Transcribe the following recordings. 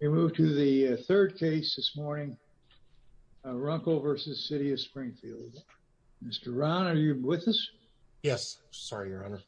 We move to the third case this morning, Runkel v. City of Springfield. Mr. Ron, are you with us? Yes. Sorry, your honor.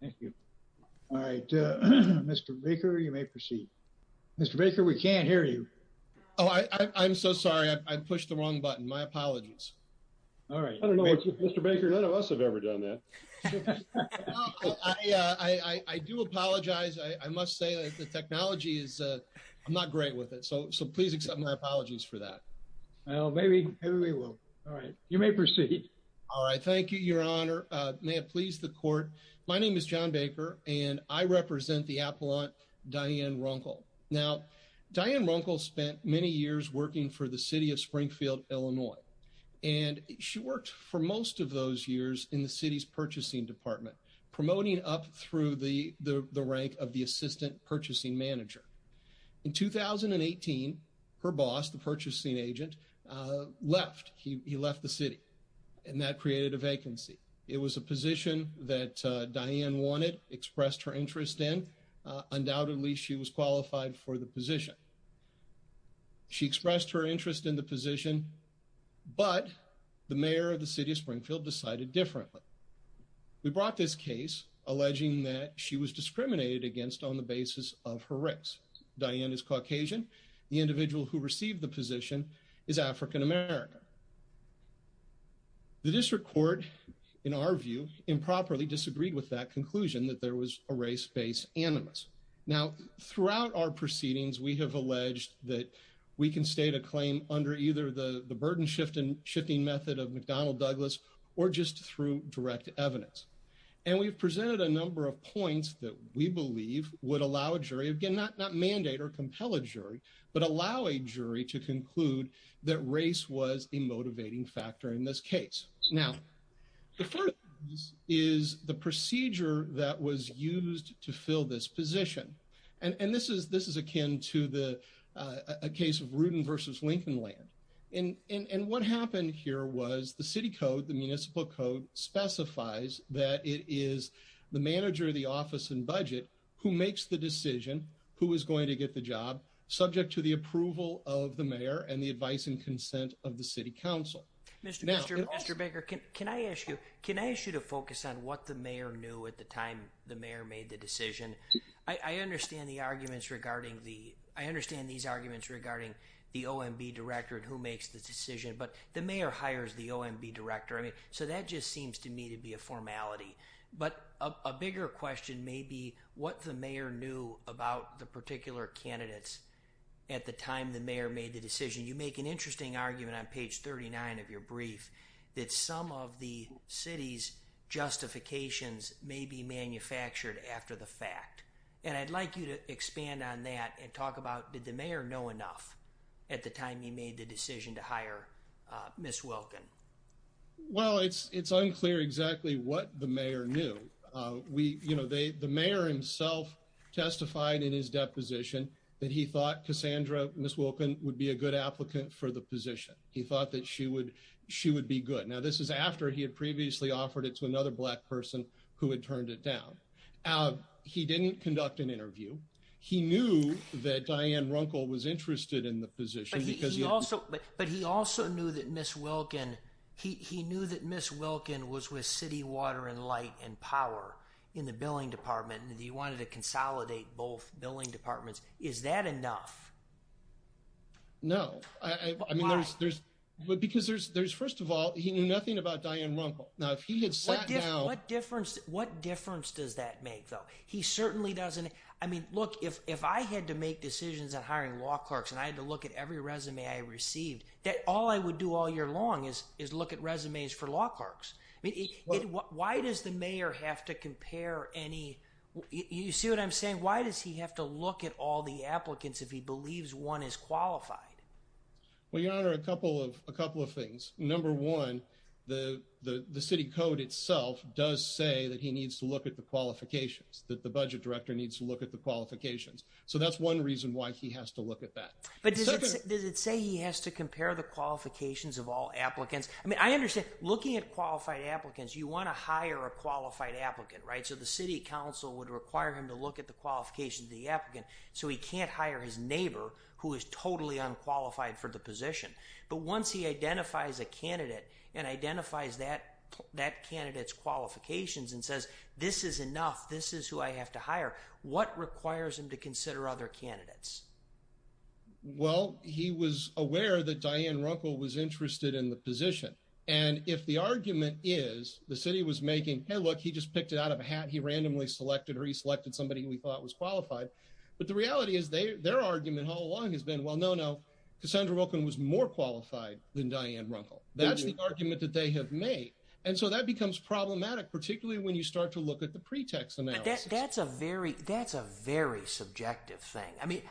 Thank you. All right, Mr. Baker, you may proceed. Mr. Baker, we can't hear you. Oh, I'm so sorry. I pushed the wrong button. My apologies. All right. I don't know what you, Mr. Baker, none of us have ever done that. Well, I do apologize. I must say that the technology is, I'm not great with it. So please accept my apologies for that. Well, maybe we will. All right. You may proceed. All right. Thank you, your honor. May it please the court. My name is John Baker and I represent the appellant Diane Runkel. Now, Diane Runkel spent many years working for the City of Springfield, Illinois, and she worked for most of those years in the city's purchasing department, promoting up through the rank of the assistant purchasing manager. In 2018, her boss, the purchasing agent, left. He left the city and that created a vacancy. It was a position that Diane wanted, expressed her interest in. Undoubtedly, she was qualified for the position. She expressed her interest in the position, but the mayor of the City of Springfield decided differently. We brought this case alleging that she was discriminated against on the basis of her race. Diane is Caucasian. The individual who received the position is African-American. The district court, in our view, improperly disagreed with that conclusion that there was a race-based animus. Now, throughout our proceedings, we have alleged that we can state a claim under either the burden-shifting method of McDonnell Douglas or just through direct evidence. And we've presented a number of points that we believe would allow a jury, again, not mandate or compel a jury, but allow a jury to conclude that race was a motivating factor in this case. Now, the first is the procedure that was used to fill this position. And this is akin to the case of Rudin versus Lincoln Land. And what happened here was the city code, the municipal code, specifies that it is the manager of the office and budget who makes the decision who is going to get the job subject to the approval of the mayor and the advice and Mr. Baker, can I ask you, can I ask you to focus on what the mayor knew at the time the mayor made the decision? I understand the arguments regarding the, I understand these arguments regarding the OMB director and who makes the decision, but the mayor hires the OMB director. I mean, so that just seems to me to be a formality, but a bigger question may be what the mayor knew about the particular candidates at the time the mayor made the decision. You make an interesting argument on page 39 of your brief that some of the city's justifications may be manufactured after the fact. And I'd like you to expand on that and talk about did the mayor know enough at the time he made the decision to hire Ms. Wilkin? Well, it's unclear exactly what the mayor knew. We, you know, the mayor himself testified in his deposition that he thought Cassandra, Ms. Wilkin would be a good applicant for the position. He thought that she would, she would be good. Now, this is after he had previously offered it to another black person who had turned it down. He didn't conduct an interview. He knew that Diane Runkle was interested in the position. But he also, but he also knew that Ms. Wilkin, he knew that Ms. Wilkin was with City Water and Light and Power in the consolidate both billing departments. Is that enough? No. I mean, there's, there's, because there's, there's, first of all, he knew nothing about Diane Runkle. Now, if he had sat down. What difference, what difference does that make though? He certainly doesn't. I mean, look, if, if I had to make decisions on hiring law clerks and I had to look at every resume I received, that all I would do all year long is, is look at resumes for law clerks. I mean, why does the mayor have to compare any, you see what I'm saying? Why does he have to look at all the applicants if he believes one is qualified? Well, your honor, a couple of, a couple of things. Number one, the, the, the city code itself does say that he needs to look at the qualifications, that the budget director needs to look at the qualifications. So that's one reason why he has to look at that. But does it say he has to compare the qualifications of all applicants? I mean, I understand looking at qualified applicants, you want to hire a qualified applicant, right? So the city council would require him to look at the qualifications of the applicant. So he can't hire his neighbor who is totally unqualified for the position. But once he identifies a candidate and identifies that, that candidate's qualifications and says, this is enough, this is who I have to hire. What requires him to consider other candidates? Well, he was aware that Diane Runkle was interested in the position. And if the argument is, the city was making, hey, look, he just picked it out of a hat. He randomly selected or he selected somebody we thought was qualified. But the reality is their, their argument all along has been, well, no, no, Cassandra Wilkin was more qualified than Diane Runkle. That's the argument that they have made. And so that becomes problematic, particularly when you start to look at the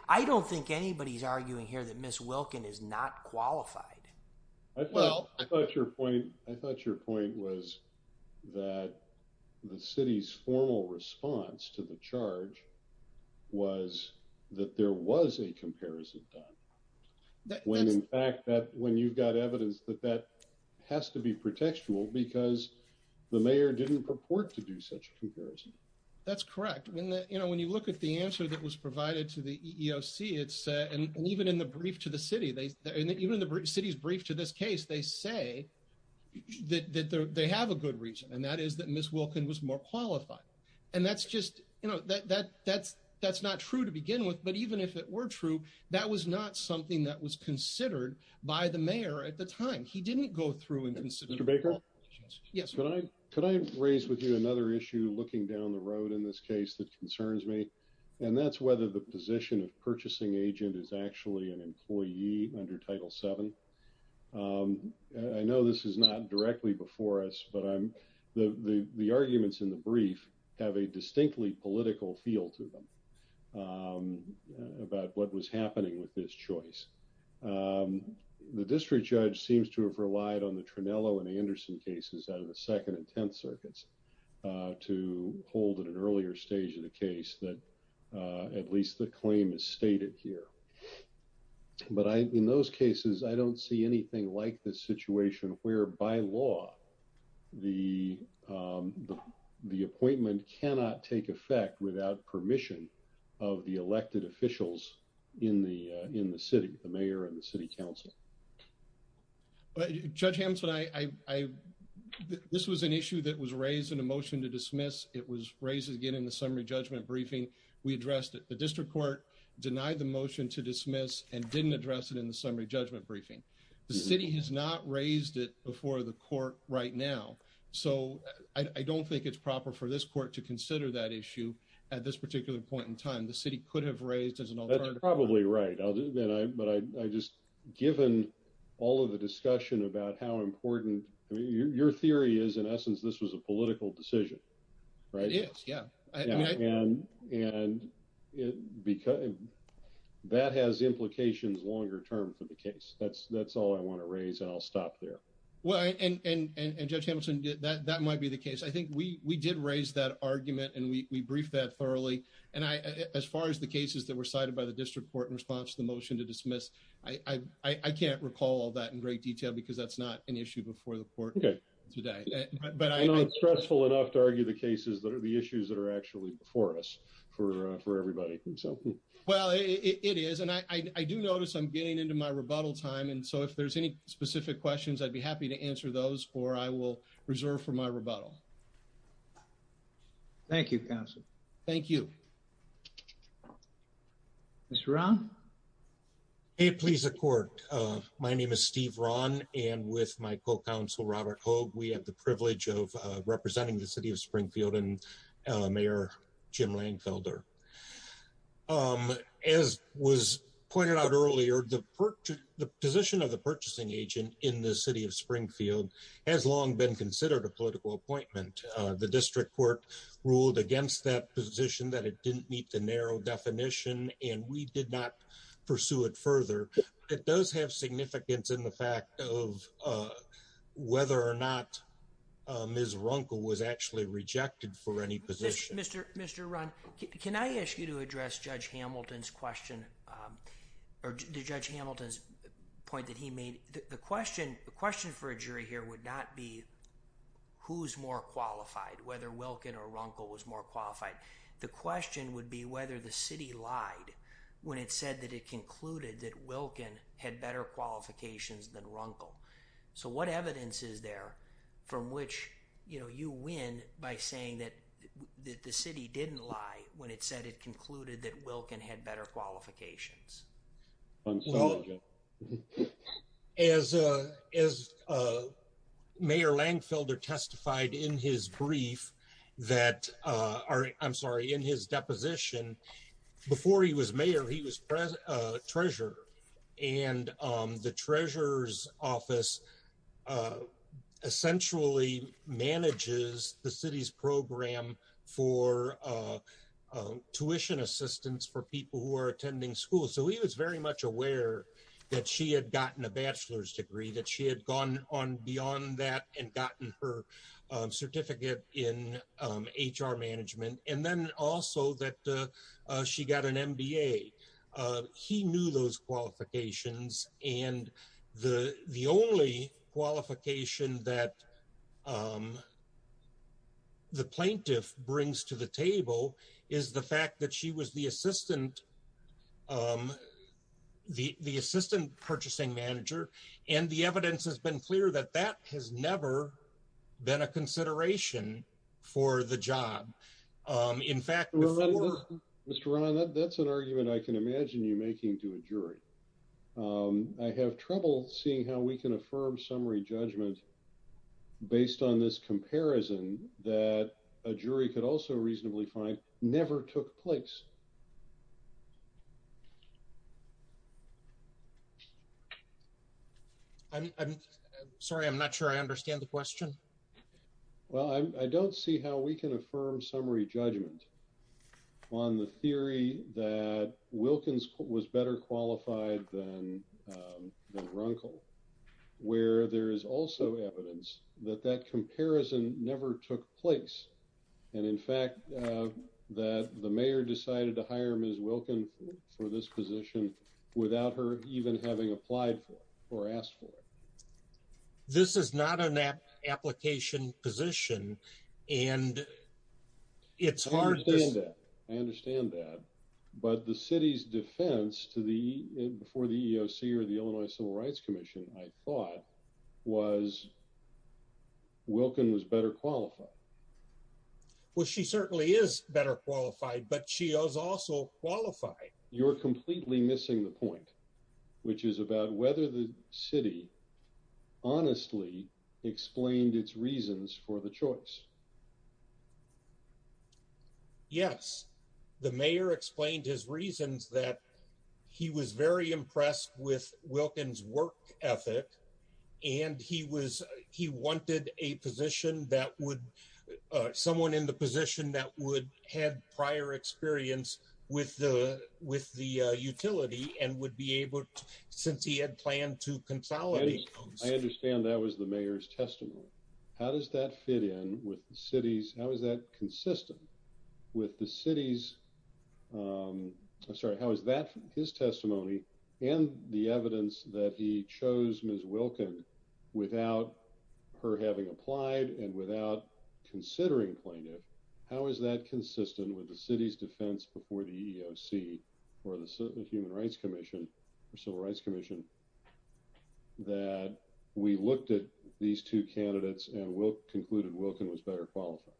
I don't think anybody's arguing here that Ms. Wilkin is not qualified. I thought your point was that the city's formal response to the charge was that there was a comparison done. When in fact that when you've got evidence that that has to be protectual because the mayor didn't purport to do such a comparison. That's correct. When the, you know, when you look at the answer that was provided to the EEOC, it's and even in the brief to the city, they even in the city's brief to this case, they say that they have a good reason. And that is that Ms. Wilkin was more qualified. And that's just, you know, that that's, that's not true to begin with. But even if it were true, that was not something that was considered by the mayor at the time. He didn't go through Mr. Baker. Yes. Could I, could I raise with you another issue looking down the road in this case that concerns me and that's whether the position of purchasing agent is actually an employee under title seven. I know this is not directly before us, but I'm the, the, the arguments in the brief have a distinctly political feel to them about what was happening with this choice. Um, the district judge seems to have relied on the Trinello and Anderson cases out of the second and 10th circuits, uh, to hold at an earlier stage of the case that, uh, at least the claim is stated here. But I, in those cases, I don't see anything like this situation where by law, the, um, the, the appointment cannot take effect without permission of the elected officials in the, in the city, the mayor and the city council. But judge Hampton, I, I, I, this was an issue that was raised in a motion to dismiss. It was raised again in the summary judgment briefing. We addressed it. The district court denied the motion to dismiss and didn't address it in the summary judgment briefing. The city has not raised it before the court right now. So I don't think it's proper for this court to consider that issue at this particular point in time, the city could have raised as an alternative. Probably right. But I, I just given all of the discussion about how important your theory is, in essence, this was a political decision, right? Yeah. And, and because that has implications longer term for the case, that's, that's all I want to raise. And I'll stop there. Well, and, and, and, and judge Hamilton did that, that might be the case. I think we, we did raise that argument and we briefed that thoroughly. And I, as far as the cases that were cited by the district court in response to the motion to dismiss, I, I, I can't recall all that in great detail because that's not an issue before the court today, but I know it's stressful enough to argue the cases that are the issues that are actually before us for, for everybody. So, well, it is, and I, I do notice I'm getting into my rebuttal time. And so if there's any specific questions, I'd be happy to answer those, or I will reserve for my rebuttal. Thank you, counsel. Thank you. Mr. Rahn? Hey, please, the court. My name is Steve Rahn and with my co-counsel, Robert Hogue, we have the privilege of representing the city of Springfield and Mayor Jim Langfelder. As was pointed out earlier, the purchase, the position of the purchasing agent in the city of Springfield has long been considered a political appointment. The district court ruled against that position that it didn't meet the narrow definition and we did not pursue it further. It does have significance in the fact of whether or not Ms. Runkle was actually rejected for any position. Mr. Mr. Rahn, can I ask you to address Judge Hamilton's question, or Judge Hamilton's point that he made? The question, the question for a jury here would not be who's more qualified, whether Wilkin or Runkle was more qualified. The question would be whether the city lied when it said that it concluded that Wilkin had better qualifications than Runkle. So what evidence is there from which, you know, you win by saying that, that the city didn't lie when it said it concluded that Wilkin had better qualifications? As Mayor Langfelder testified in his brief that, I'm sorry, in his deposition, before he was mayor, he was treasurer and the treasurer's office essentially manages the city's program for tuition assistance for people who are attending school. So he was very much aware that she had gotten a bachelor's degree, that she had gone on beyond that and gotten her certificate in HR management, and then also that she got an MBA. He knew those qualifications that the plaintiff brings to the table is the fact that she was the assistant, the assistant purchasing manager, and the evidence has been clear that that has never been a consideration for the job. In fact, Mr. Ron, that's an argument I can imagine you making to a jury. I have trouble seeing how we can affirm summary judgment based on this comparison that a jury could also reasonably find never took place. I'm sorry, I'm not sure I understand the question. Well, I don't see how we can affirm summary judgment on the theory that Wilkins was better qualified than Runkle, where there is also evidence that that comparison never took place, and in fact that the mayor decided to hire Ms. Wilkin for this position without her even having applied for or asked for it. This is not an application position and it's hard. I understand that, but the city's defense to the before the EEOC or the Illinois Civil Rights Commission, I thought was Wilkin was better qualified. Well, she certainly is better qualified, but she is also qualified. You're completely missing the point, which is about whether the city honestly explained its reasons for the choice. Yes, the mayor explained his reasons that he was very impressed with Wilkins' work ethic and he wanted a position that would, someone in the position that would have prior experience with the utility and would be able to, since he had planned to consolidate. I understand that was the mayor's testimony. How does that fit in with the city's, how is that consistent with the city's, I'm sorry, how is that his testimony and the evidence that he chose Ms. Wilkin without her having applied and without considering plaintiff? How is that consistent with the city's defense before the EEOC or the Human Rights Commission or Civil Rights Commission that we looked at these two candidates and concluded Wilkin was better qualified?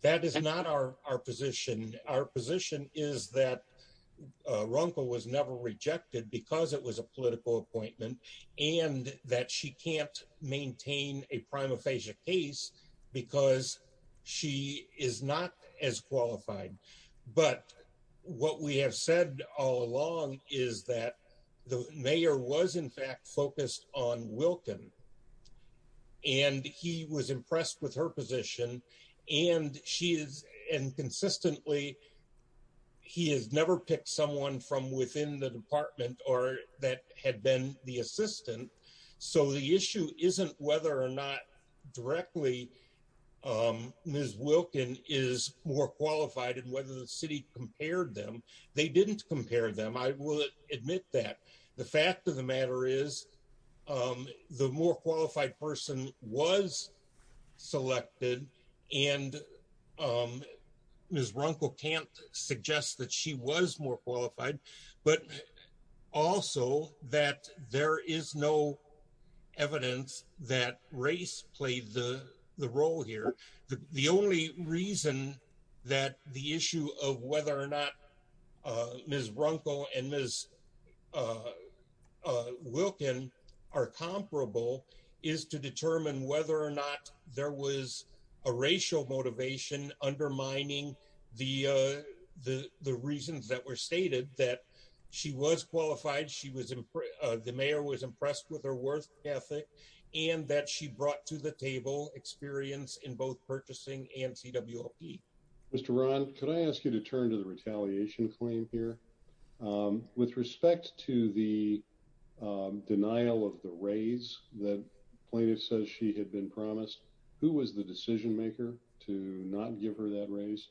That is not our position. Our position is that Runkle was never rejected because it was a maintained a prima facie case because she is not as qualified. But what we have said all along is that the mayor was in fact focused on Wilkin and he was impressed with her position and she is, and consistently he has never picked someone from within the department or that had been the assistant. So the issue isn't whether or not directly Ms. Wilkin is more qualified and whether the city compared them. They didn't compare them, I will admit that. The fact of the matter is the more qualified person was selected and Ms. Runkle can't suggest that she was more qualified, but also that there is no evidence that race played the role here. The only reason that the issue of whether or not Ms. Runkle and Ms. Wilkin are comparable is to determine whether or not there was a racial motivation undermining the reasons that were stated that she was qualified, the mayor was impressed with her work ethic and that she brought to the table experience in both purchasing and CWLP. Mr. Ron, could I ask you to turn to the retaliation claim here? With respect to the denial of the raise that plaintiff says she had been promised, who was the decision maker to not give her that raise?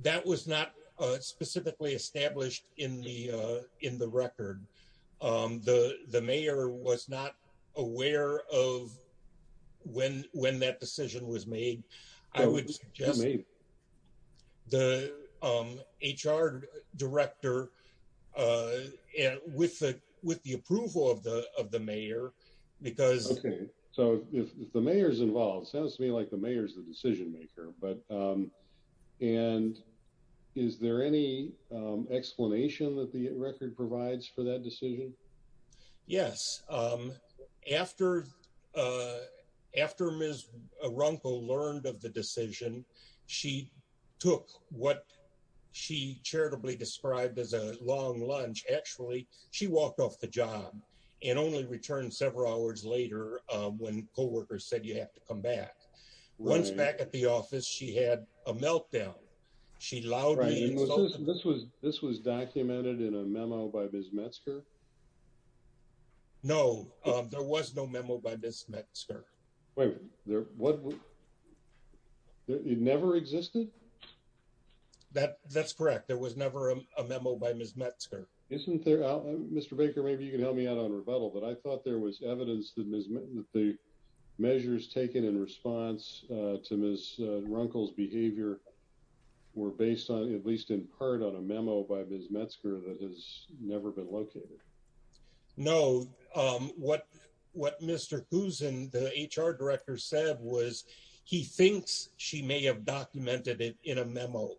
That was not specifically established in the record. The mayor was not aware of when that decision was made. I would suggest the HR director with the approval of the mayor. If the mayor is involved, it sounds to me like the mayor is the decision maker. Is there any explanation that the record provides for that decision? Yes. After Ms. Runkle learned of the decision, she took what she charitably described as a long lunch. Actually, she walked off the job and only returned several hours later when co-workers said you have to come back. Once back at the office, she had a meltdown. She loudly insulted. This was documented in a memo by Ms. Metzger? No, there was no memo by Ms. Metzger. It never existed? That's correct. There was never a memo by Ms. Metzger. Isn't there? Mr. Baker, maybe you can help me out on rebuttal, but I thought there was evidence that the measures taken in response to Ms. Runkle's behavior were based on at least in part on a memo by Ms. Metzger that has never been located. No. What Mr. Kusin, the HR director, said was he thinks she may have documented it in a memo,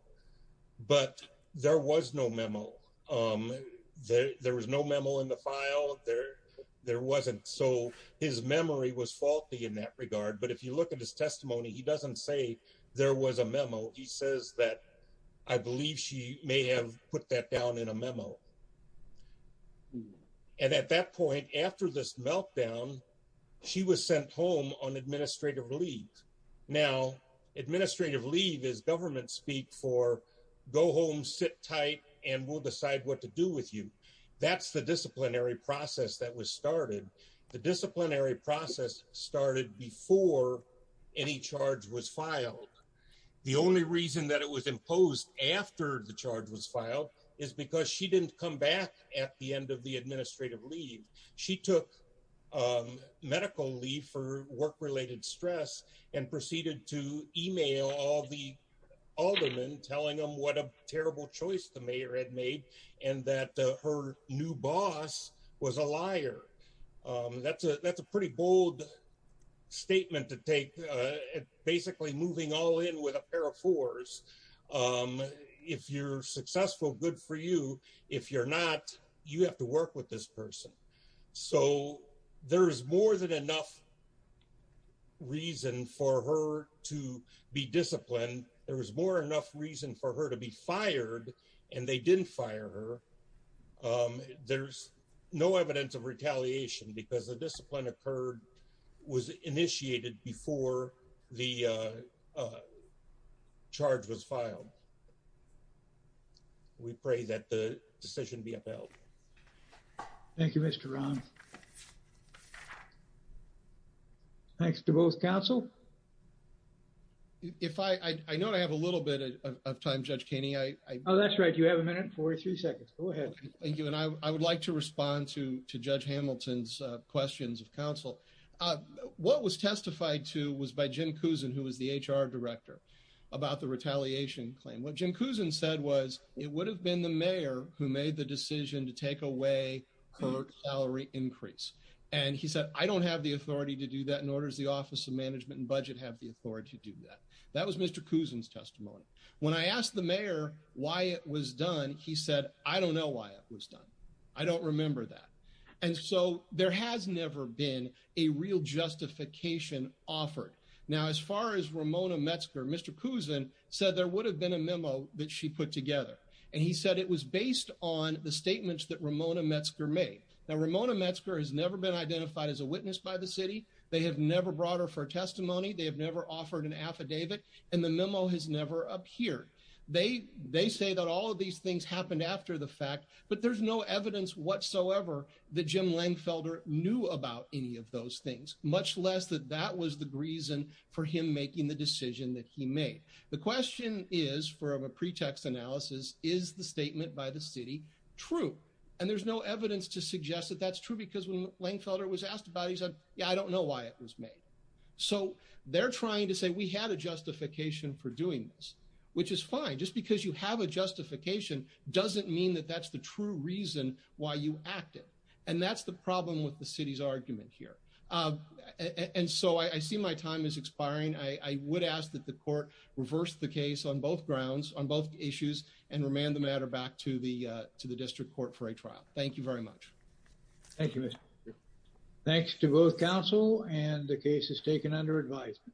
but there was no memo. There was no memo in the file. His memory was faulty in that regard, but if you look at his testimony, he doesn't say there was a memo. He says that I believe she may have put that down in a memo. At that point, after this meltdown, she was sent home on administrative leave. Now, administrative leave is government speak for go home, sit tight, and we'll decide what to do with you. That's the disciplinary process that was started. The disciplinary process started before any charge was filed. The only reason that it was imposed after the charge was filed is because she didn't come back at the end of administrative leave. She took medical leave for work-related stress and proceeded to email all the aldermen telling them what a terrible choice the mayor had made and that her new boss was a liar. That's a pretty bold statement to take, basically moving all in with a pair of fours. If you're successful, good for you. If you're not, you have to work with this person. So, there's more than enough reason for her to be disciplined. There was more enough reason for her to be fired, and they didn't fire her. There's no evidence of retaliation because the discipline occurred, was initiated before the charge was filed. We pray that the decision be upheld. Thank you, Mr. Rahn. Thanks to both counsel. If I, I know I have a little bit of time, Judge Kenney. Oh, that's right. You have a minute and 43 seconds. Go ahead. Thank you, and I would like to respond to Judge Hamilton's questions of counsel. What was testified to was by Jim Cousin, who was the HR director, about the retaliation claim. What Jim Cousin said was it would have been the mayor who made the decision to take away her salary increase, and he said, I don't have the authority to do that, nor does the Office of Management and Budget have the authority to do that. That was Mr. Cousin's testimony. When I asked the mayor why it was done, he said, I don't know why it was done. I don't remember that. And so there has never been a real justification offered. Now, as far as Ramona Metzger, Mr. Cousin said there would have been a memo that she put together, and he said it was based on the statements that Ramona Metzger made. Now, Ramona Metzger has never been identified as a witness by the city. They have never brought her for testimony. They have never offered an affidavit, and the memo has never appeared. They say that all of these things happened after the fact, but there's no evidence whatsoever that Jim Lengfelder knew about any of those things, much less that that was the reason for him making the decision that he made. The question is, from a pretext analysis, is the statement by the city true? And there's no evidence to suggest that that's true, because when Lengfelder was asked about it, he said, yeah, I don't know why it was made. So they're trying to say we had a justification for doing this, which is fine. Just because you have a justification doesn't mean that that's the true reason why you acted, and that's the problem with the city's argument here. And so I see my time is expiring. I would ask that the court reverse the case on both grounds, on both issues, and remand the matter back to the district court for a trial. Thank you very much. Thank you, Mr. Cousin. Thanks to both counsel, and the case is taken under advisement.